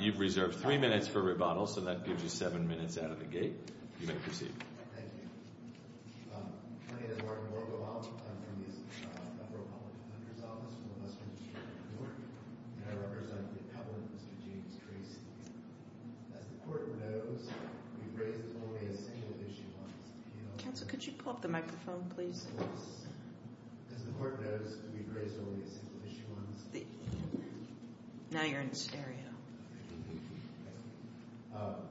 You've reserved 3 minutes for rebuttal, so that gives you 7 minutes out of the gate. You may proceed. Thank you. My name is Martin Vogelbaum. I'm from the Federal Public Defender's Office in the Western District of Newark. And I represent the Appellant, Mr. James Tracy. As the Court knows, we've raised only a single issue once. Counsel, could you pull up the microphone, please? Of course. As the Court knows, we've raised only a single issue once. Now you're in stereo.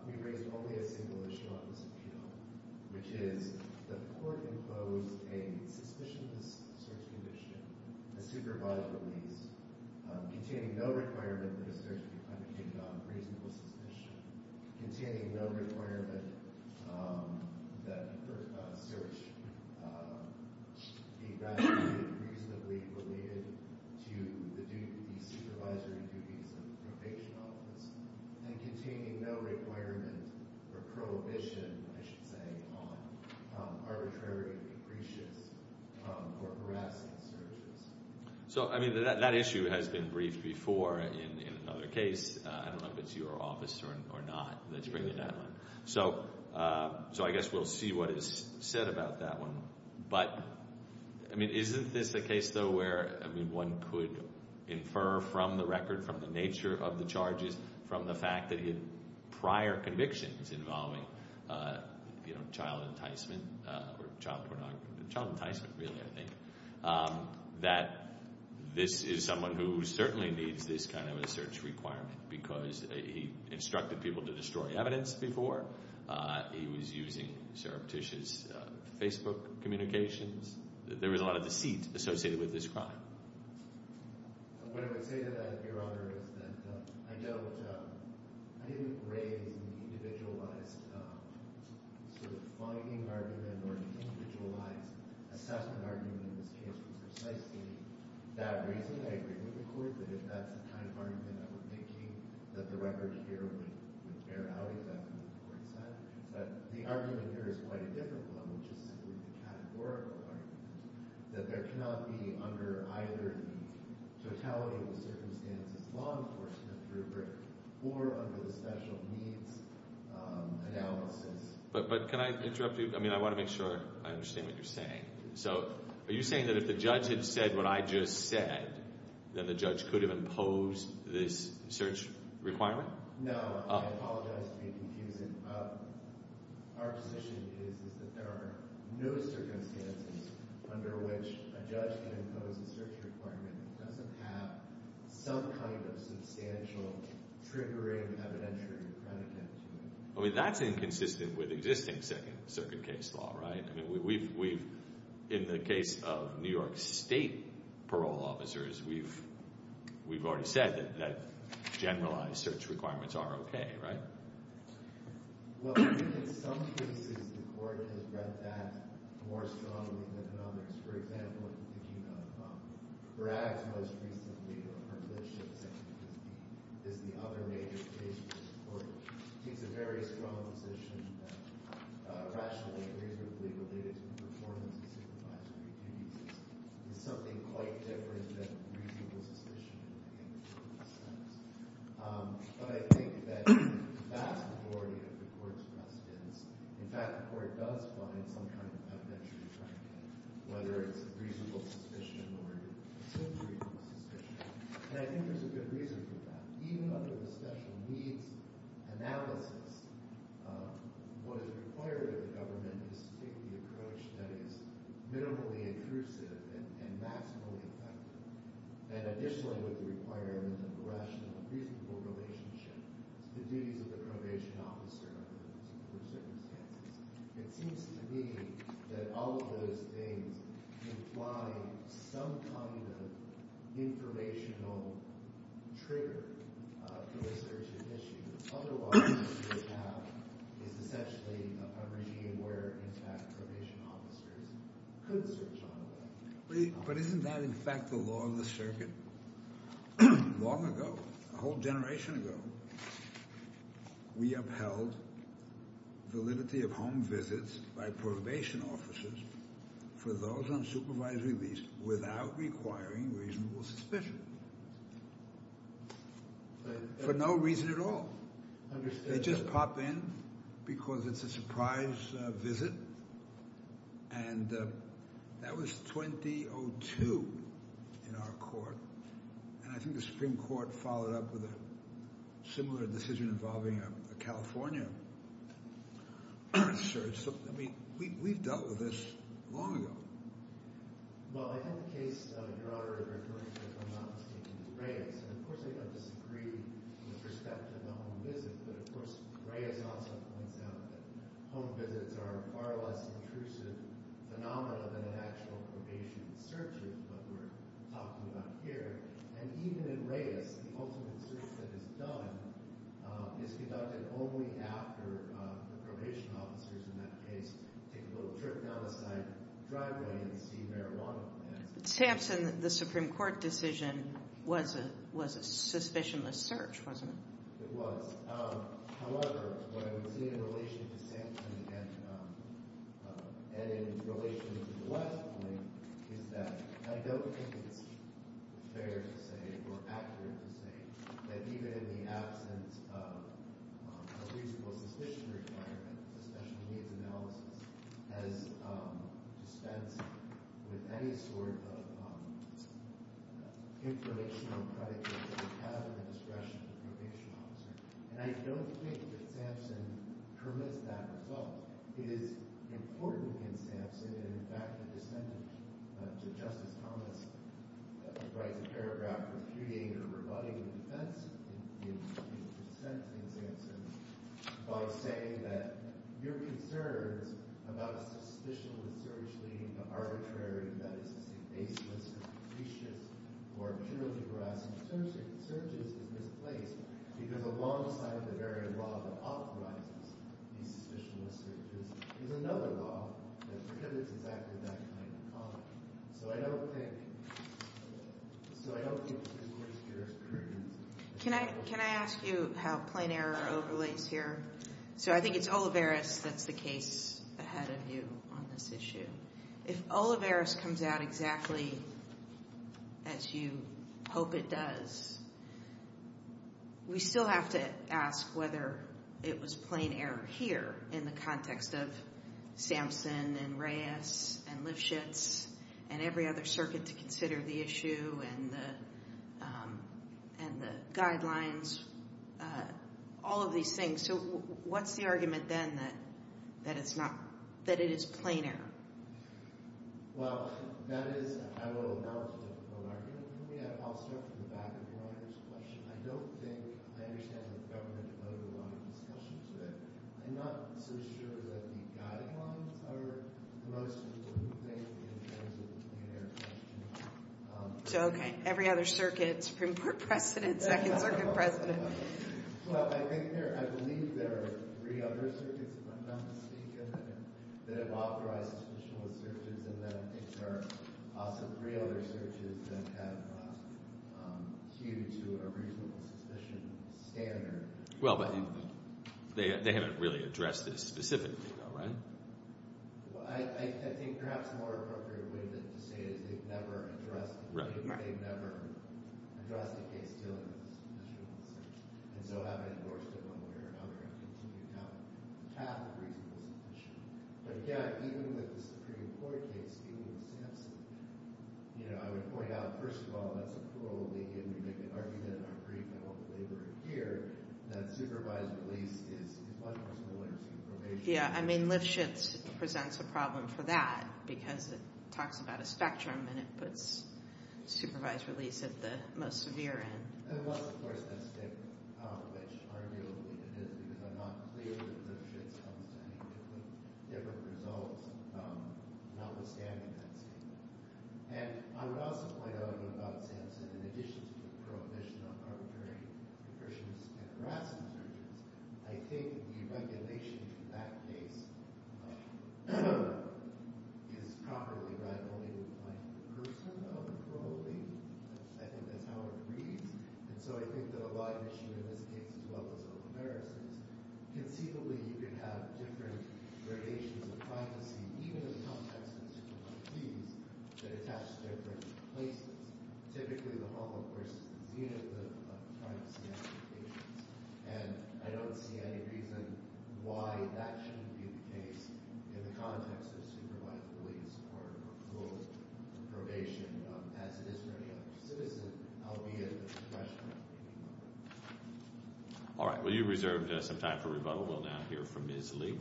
We've raised only a single issue on this appeal, which is the Court imposed a suspicionless search condition, a supervised release, containing no requirement that a search be plenicated on reasonable suspicion, containing no requirement that a search be evaluated reasonably related to the supervisory duties of the probation office, and containing no requirement or prohibition, I should say, on arbitrary, capricious or harassing searches. So, I mean, that issue has been briefed before in another case. I don't know if it's your office or not that's bringing that up. So I guess we'll see what is said about that one. But, I mean, isn't this a case, though, where one could infer from the record, from the nature of the charges, from the fact that he had prior convictions involving child enticement or child pornography, child enticement, really, I think, that this is someone who certainly needs this kind of a search requirement because he instructed people to destroy evidence before. He was using Sarah Petit's Facebook communications. There was a lot of deceit associated with this crime. What I would say to that, Your Honor, is that I don't— I didn't raise an individualized sort of finding argument or an individualized assessment argument in this case. It was precisely that reason I agreed with the court, that if that's the kind of argument that we're making, that the record here would bear out exactly what the court said. But the argument here is quite a different one, which is simply the categorical argument, that there cannot be, under either the totality of the circumstances, law enforcement rubric or under the special needs analysis— But can I interrupt you? I mean, I want to make sure I understand what you're saying. So are you saying that if the judge had said what I just said, then the judge could have imposed this search requirement? No. I apologize to be confusing. Our position is that there are no circumstances under which a judge can impose a search requirement that doesn't have some kind of substantial triggering evidentiary predicate to it. I mean, that's inconsistent with existing Second Circuit case law, right? In the case of New York State parole officers, we've already said that generalized search requirements are okay, right? Well, I think in some cases the court has read that more strongly than others. For example, if you think of Bragg's most recent legal partnership, he's in a very strong position that rationally and reasonably related to the performance of supervisory duties is something quite different than reasonable suspicion in the legal sense. But I think that the vast majority of the court's precedents— in fact, the court does find some kind of evidentiary predicate, whether it's reasonable suspicion or simply reasonable suspicion. And I think there's a good reason for that. Even under the special needs analysis, what is required of the government is to take the approach that is minimally intrusive and maximally effective. And additionally, with the requirement of a rational and reasonable relationship, the duties of the probation officer under those circumstances. It seems to me that all of those things imply some kind of informational trigger for this urgent issue. Otherwise, what you would have is essentially a regime where, in fact, probation officers could search on the way. But isn't that, in fact, the law of the circuit? Long ago, a whole generation ago, we upheld validity of home visits by probation officers for those on supervised release without requiring reasonable suspicion. For no reason at all. They just pop in because it's a surprise visit. And that was 2002 in our court. And I think the Supreme Court followed up with a similar decision involving a California search. I mean, we've dealt with this long ago. Well, I had the case, Your Honor, of referring to Reyes. And, of course, I don't disagree with respect to the home visit. But, of course, Reyes also points out that home visits are far less intrusive phenomena than an actual probation search is, what we're talking about here. And even in Reyes, the ultimate search that is done is conducted only after the probation officers in that case take a little trip down the side driveway and see marijuana plants. Samson, the Supreme Court decision was a suspicionless search, wasn't it? It was. However, what I would say in relation to Samson and in relation to the last point is that I don't think it's fair to say or accurate to say that even in the absence of a reasonable suspicion requirement, a special needs analysis has dispensed with any sort of informational predicate that we have in the discretion of the probation officer. And I don't think that Samson permits that result. It is important in Samson and, in fact, a descendant to Justice Thomas writes a paragraph refuting or rebutting the defense in the dissent in Samson by saying that your concerns about a suspicionless search leading to arbitrary, that is to say baseless, suspicious, or purely veracity searches is misplaced because alongside the very law that authorizes these suspicionless searches So I don't think it's a misplaced jurisprudence. Can I ask you how plain error overlays here? So I think it's Olivares that's the case ahead of you on this issue. If Olivares comes out exactly as you hope it does, we still have to ask whether it was plain error here in the context of Samson and Reyes and Lifshitz and every other circuit to consider the issue and the guidelines. All of these things. So what's the argument then that it is plain error? Well, that is, I will announce an argument. I don't think, I understand the government overwhelming discussion to it. I'm not so sure that the guidelines are the most important thing in terms of the plain error question. So, okay, every other circuit, Supreme Court precedent, Second Circuit precedent. Well, I believe there are three other circuits, if I'm not mistaken, that have authorized suspicionless searches and then I think there are also three other searches that have queued to a reasonable suspicion standard. Well, but they haven't really addressed this specifically, though, right? I think perhaps a more appropriate way to say it is they've never addressed it. They've never addressed a case dealing with a suspicionless search. And so having endorsed it one way or another and continued to have a reasonable suspicion. But, yeah, even with the Supreme Court case dealing with Samson, you know, I would point out, first of all, that's a plurality and we make an argument in our brief, and hopefully we're here, that supervised release is much more similar to probation. Yeah, I mean, Lipschitz presents a problem for that because it talks about a spectrum and it puts supervised release at the most severe end. And that's, of course, that stip, which arguably it is because I'm not clear that Lipschitz comes to any different results, notwithstanding that stip. And I would also point out about Samson, in addition to the prohibition on arbitrary repercussions and harassment searches, I think the regulation in that case is properly rivaling the claim of the person, not the parolee. I think that's how it reads. And so I think that a live issue in this case, as well, is self-embarrassment. Conceivably, you could have different variations of privacy, even in the context of supervised release, that attach to different places. Typically, the home, of course, is the unit of privacy applications. And I don't see any reason why that shouldn't be the case in the context of supervised release or parole or probation, as it is for any other citizen, albeit a professional. All right. Will you reserve some time for rebuttal? We'll now hear from Ms. Lee.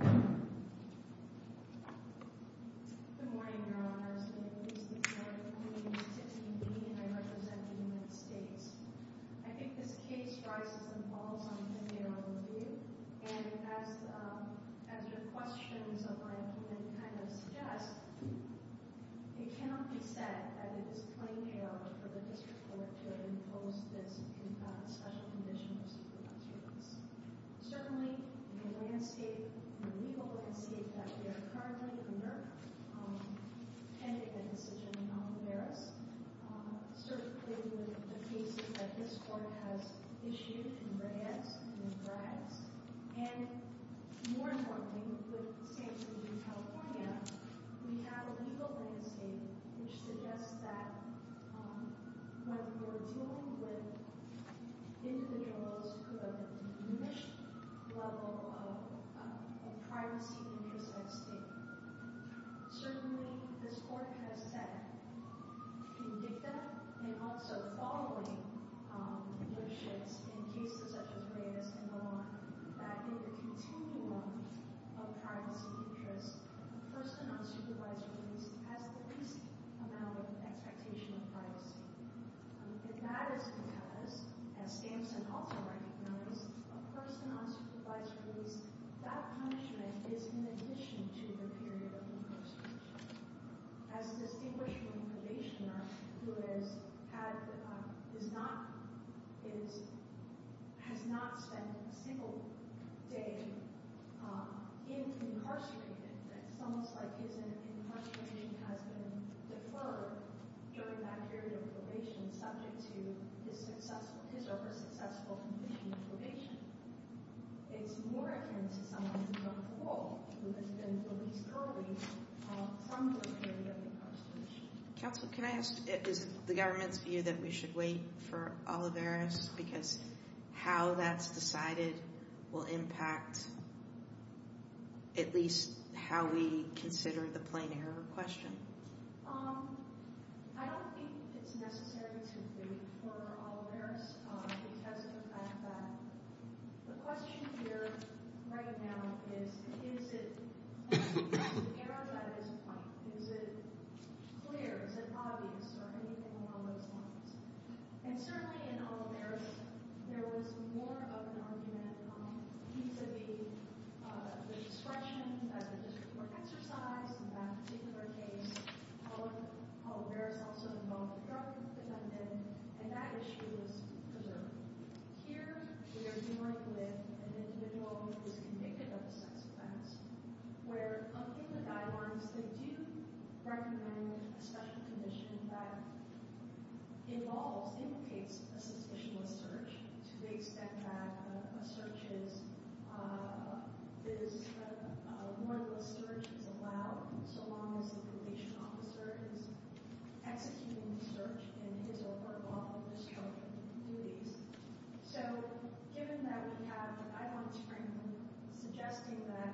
Good morning, Your Honors. My name is Tiffany Lee, and I represent the United States. I think this case rises and falls on what they already do. And as your questions of ranking it kind of suggest, it cannot be said that it is a plain failure for the district court to impose this special condition of supervised release. Certainly, in the legal landscape that we are currently under, pending a decision in Aljuberez, certainly with the cases that this court has issued in Reyes and in Braggs, and more importantly, with San Jose, California, we have a legal landscape which suggests that when we're dealing with individuals who have a diminished level of privacy interest at stake, certainly this court has said in dicta and also following leaderships in cases such as Reyes and so on, that in the continuum of privacy interest, a person on supervised release has the least amount of expectation of privacy. And that is because, as Stamson also recognizes, a person on supervised release, that punishment is in addition to the period of incarceration. As a distinguished probationer who has not spent a single day being incarcerated, it's almost like his incarceration has been deferred during that period of probation subject to his over-successful condition of probation. It's more akin to someone who's on parole who has been released early from the period of incarceration. Counsel, can I ask, is it the government's view that we should wait for Aljuberez because how that's decided will impact at least how we consider the plain error question? I don't think it's necessary to wait for Aljuberez because of the fact that the question here right now is, is it an error at this point? Is it clear? Is it obvious? Or anything along those lines. And certainly in Aljuberez, there was more of an argument vis-a-vis the discretion that the district were exercised in that particular case. Aljuberez also involved a drug defendant and that issue was preserved. Here, we are dealing with an individual who is convicted of a sex offense where in the guidelines they do recommend a special condition that involves, implicates a suspicionless search to the extent that a search is, a warrantless search is allowed so long as the probation officer is executing the search in his or her lawful district duties. So, given that we have, I want to frame them suggesting that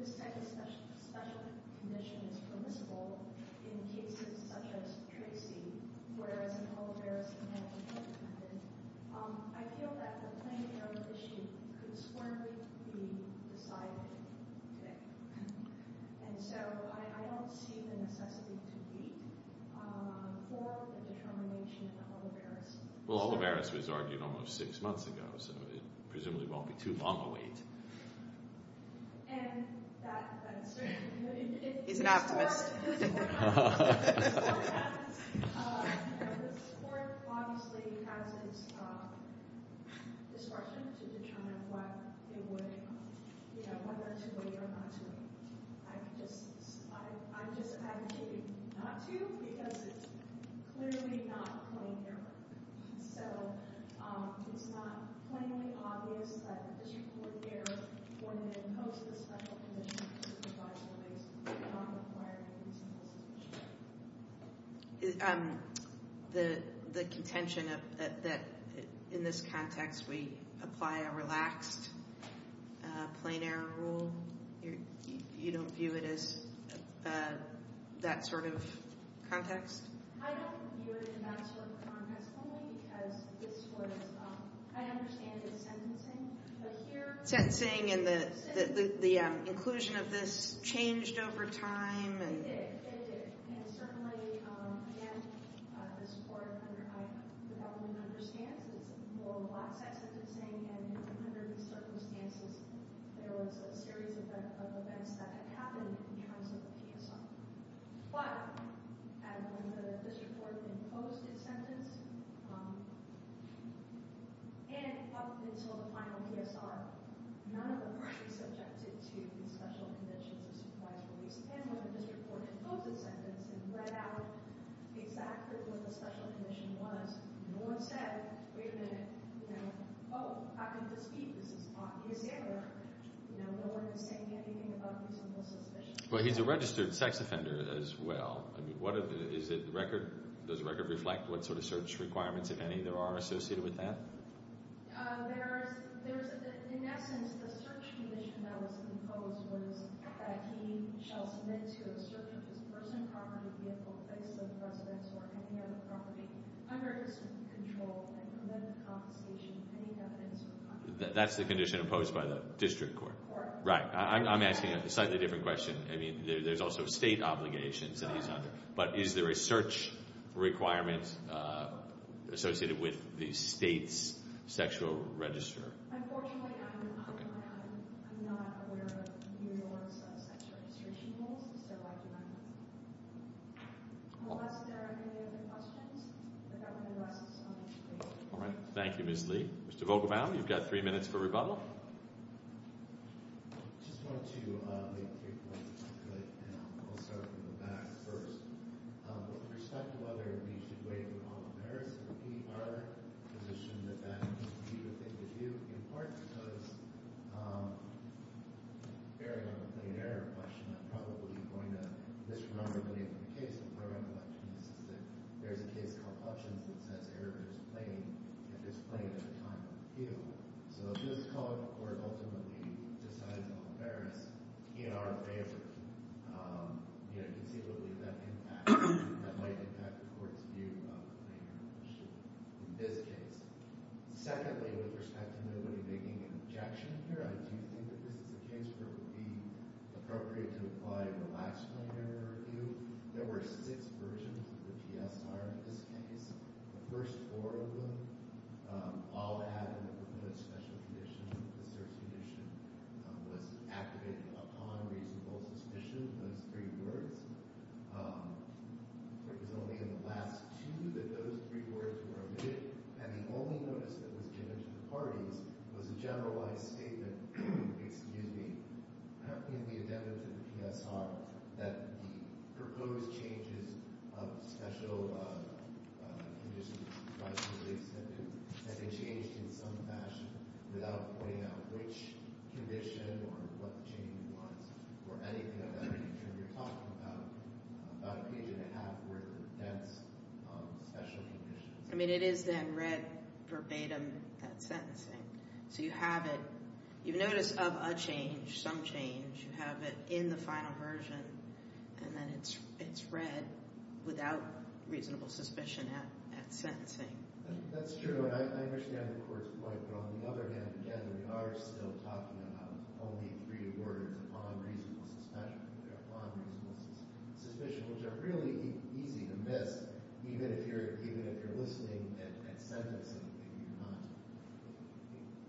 this type of special condition is permissible in cases such as Tracy, whereas in Aljuberez, it was not recommended, I feel that the plaintiff on the issue could swornly be decided today. And so, I don't see the necessity to wait for the determination of the Aljuberez court. Well, Aljuberez was argued almost six months ago, so it presumably won't be too long a wait. And that certainly... He's an optimist. This court obviously has its discretion to determine whether to wait or not to wait. I'm just advocating not to because it's clearly not a plain error. So, it's not plainly obvious that an issue court here wouldn't impose this type of condition on a lawyer in a reasonable situation. The contention that in this context we apply a relaxed plain error rule, you don't view it as that sort of context? I don't view it in that sort of context only because this court is... I understand it's sentencing, but here... Sentencing and the inclusion of this changed over time and... It did. It did. And certainly, again, this court, the government understands that it's a more relaxed sentencing and under these circumstances, there was a series of events that had happened in terms of the PSR. But when this court imposed its sentence, and up until the final PSR, none of them were really subjected to these special conditions of supervised release. And when this court imposed its sentence and read out exactly what the special condition was, no one said, wait a minute, oh, I can dispute this is obvious error. No one is saying anything about reasonable suspicion. Well, he's a registered sex offender as well. Does the record reflect what sort of search requirements, if any, there are associated with that? There's... In essence, the search condition that was imposed was that he shall submit to a search of his personal property, vehicle, place of residence, or any other property under his control and prevent the confiscation of any evidence or content. That's the condition imposed by the district court. Right. I'm asking a slightly different question. I mean, there's also state obligations that he's under. But is there a search requirement associated with the state's sexual register? All right. Thank you, Ms. Lee. Mr. Vogelbaum, you've got three minutes for rebuttal. With respect to whether he should waive all affairs of the PR position, that that would be the thing to do, in part because, bearing on the plain error question, I'm probably going to misremember the name of the case and part of my question is that there's a case called Functions that says error is plain if it's plain at the time of appeal. So if this court ultimately decides all affairs in our favor, conceivably that might impact the court's view of the plain error question in this case. Secondly, with respect to nobody making an objection here, I do think that this is a case where it would be appropriate to apply the last plain error review. There were six versions of the PSR in this case. The first four of them all had a proposed special condition. The search condition was activated upon reasonable suspicion. Those three words. It was only in the last two that those three words were omitted and the only notice that was given to the parties was a generalized statement in the addendum to the PSR that the proposed changes of special conditions were not fully accepted and they changed in some fashion without pointing out which condition or what change was or anything of that nature. You're talking about a page and a half worth of dense special conditions. I mean, it is then read verbatim at sentencing. So you have it. You notice of a change, some change. You have it in the final version and then it's read without reasonable suspicion at sentencing. That's true. I understand the court's point, but on the other hand, again, we are still talking about only three words upon reasonable suspicion, which are really easy to miss even if you're listening at sentencing.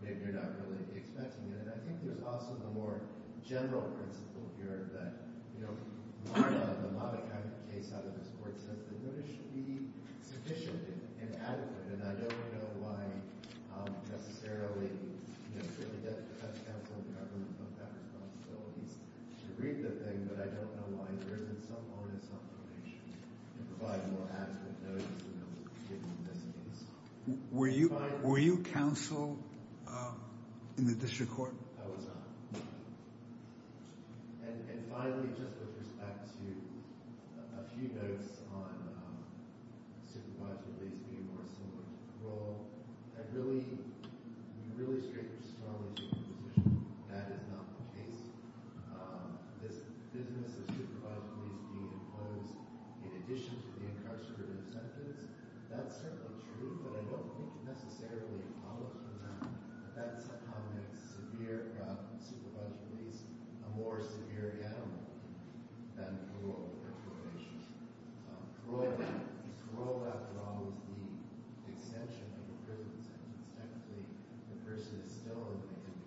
Maybe you're not. Maybe you're not really expecting it. And I think there's also the more general principle here that, you know, the Mata case out of this court says that notice should be sufficient and adequate and I don't know why necessarily certainly that's counsel and government's responsibilities to read the thing, but I don't know why there isn't some onus on probation to provide more adequate notice than there was given in this case. Were you counsel in the district court? I was not. And finally, just with respect to a few notes on supervised release being more similar to parole, I really, really strongly take the position that is not the case. This business of supervised release being imposed in addition to the incarcerative sentence, that's certainly true, but I don't think it necessarily follows from that. That somehow makes supervised release a more severe animal than parole or probation. Parole, after all, is the extension of a prison sentence. Technically, the person is still in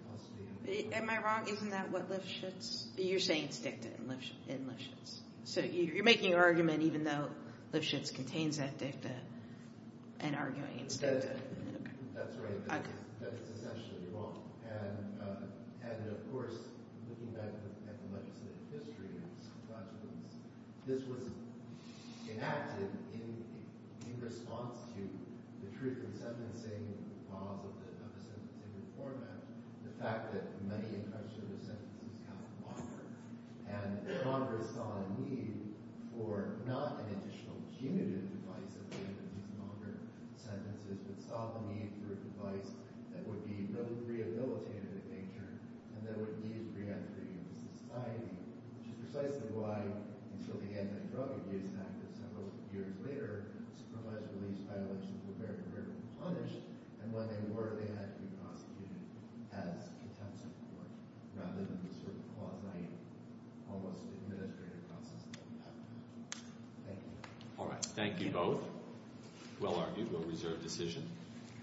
custody. Am I wrong? Isn't that what Lifshitz... You're saying it's dicta in Lifshitz. So you're making an argument even though Lifshitz contains that dicta and arguing it's dicta. That's right. That's essentially wrong. And, of course, looking back at the legislative history and its consequence, this was enacted in response to the truth in sentencing laws of the sentencing reform act, the fact that many incarcerated sentences got longer, and Congress saw a need for not an additional punitive device at the end of these longer sentences, but saw the need for a device that would be no rehabilitative nature and that would ease re-entry into society, which is precisely why until the Anti-Drug Abuse Act of several years later, supervised release violations were very rarely punished, and when they were, they had to be prosecuted as contempt of court rather than the quasi, almost administrative process that we have today. Thank you. All right. Thank you both. Well argued. Well reserved decision.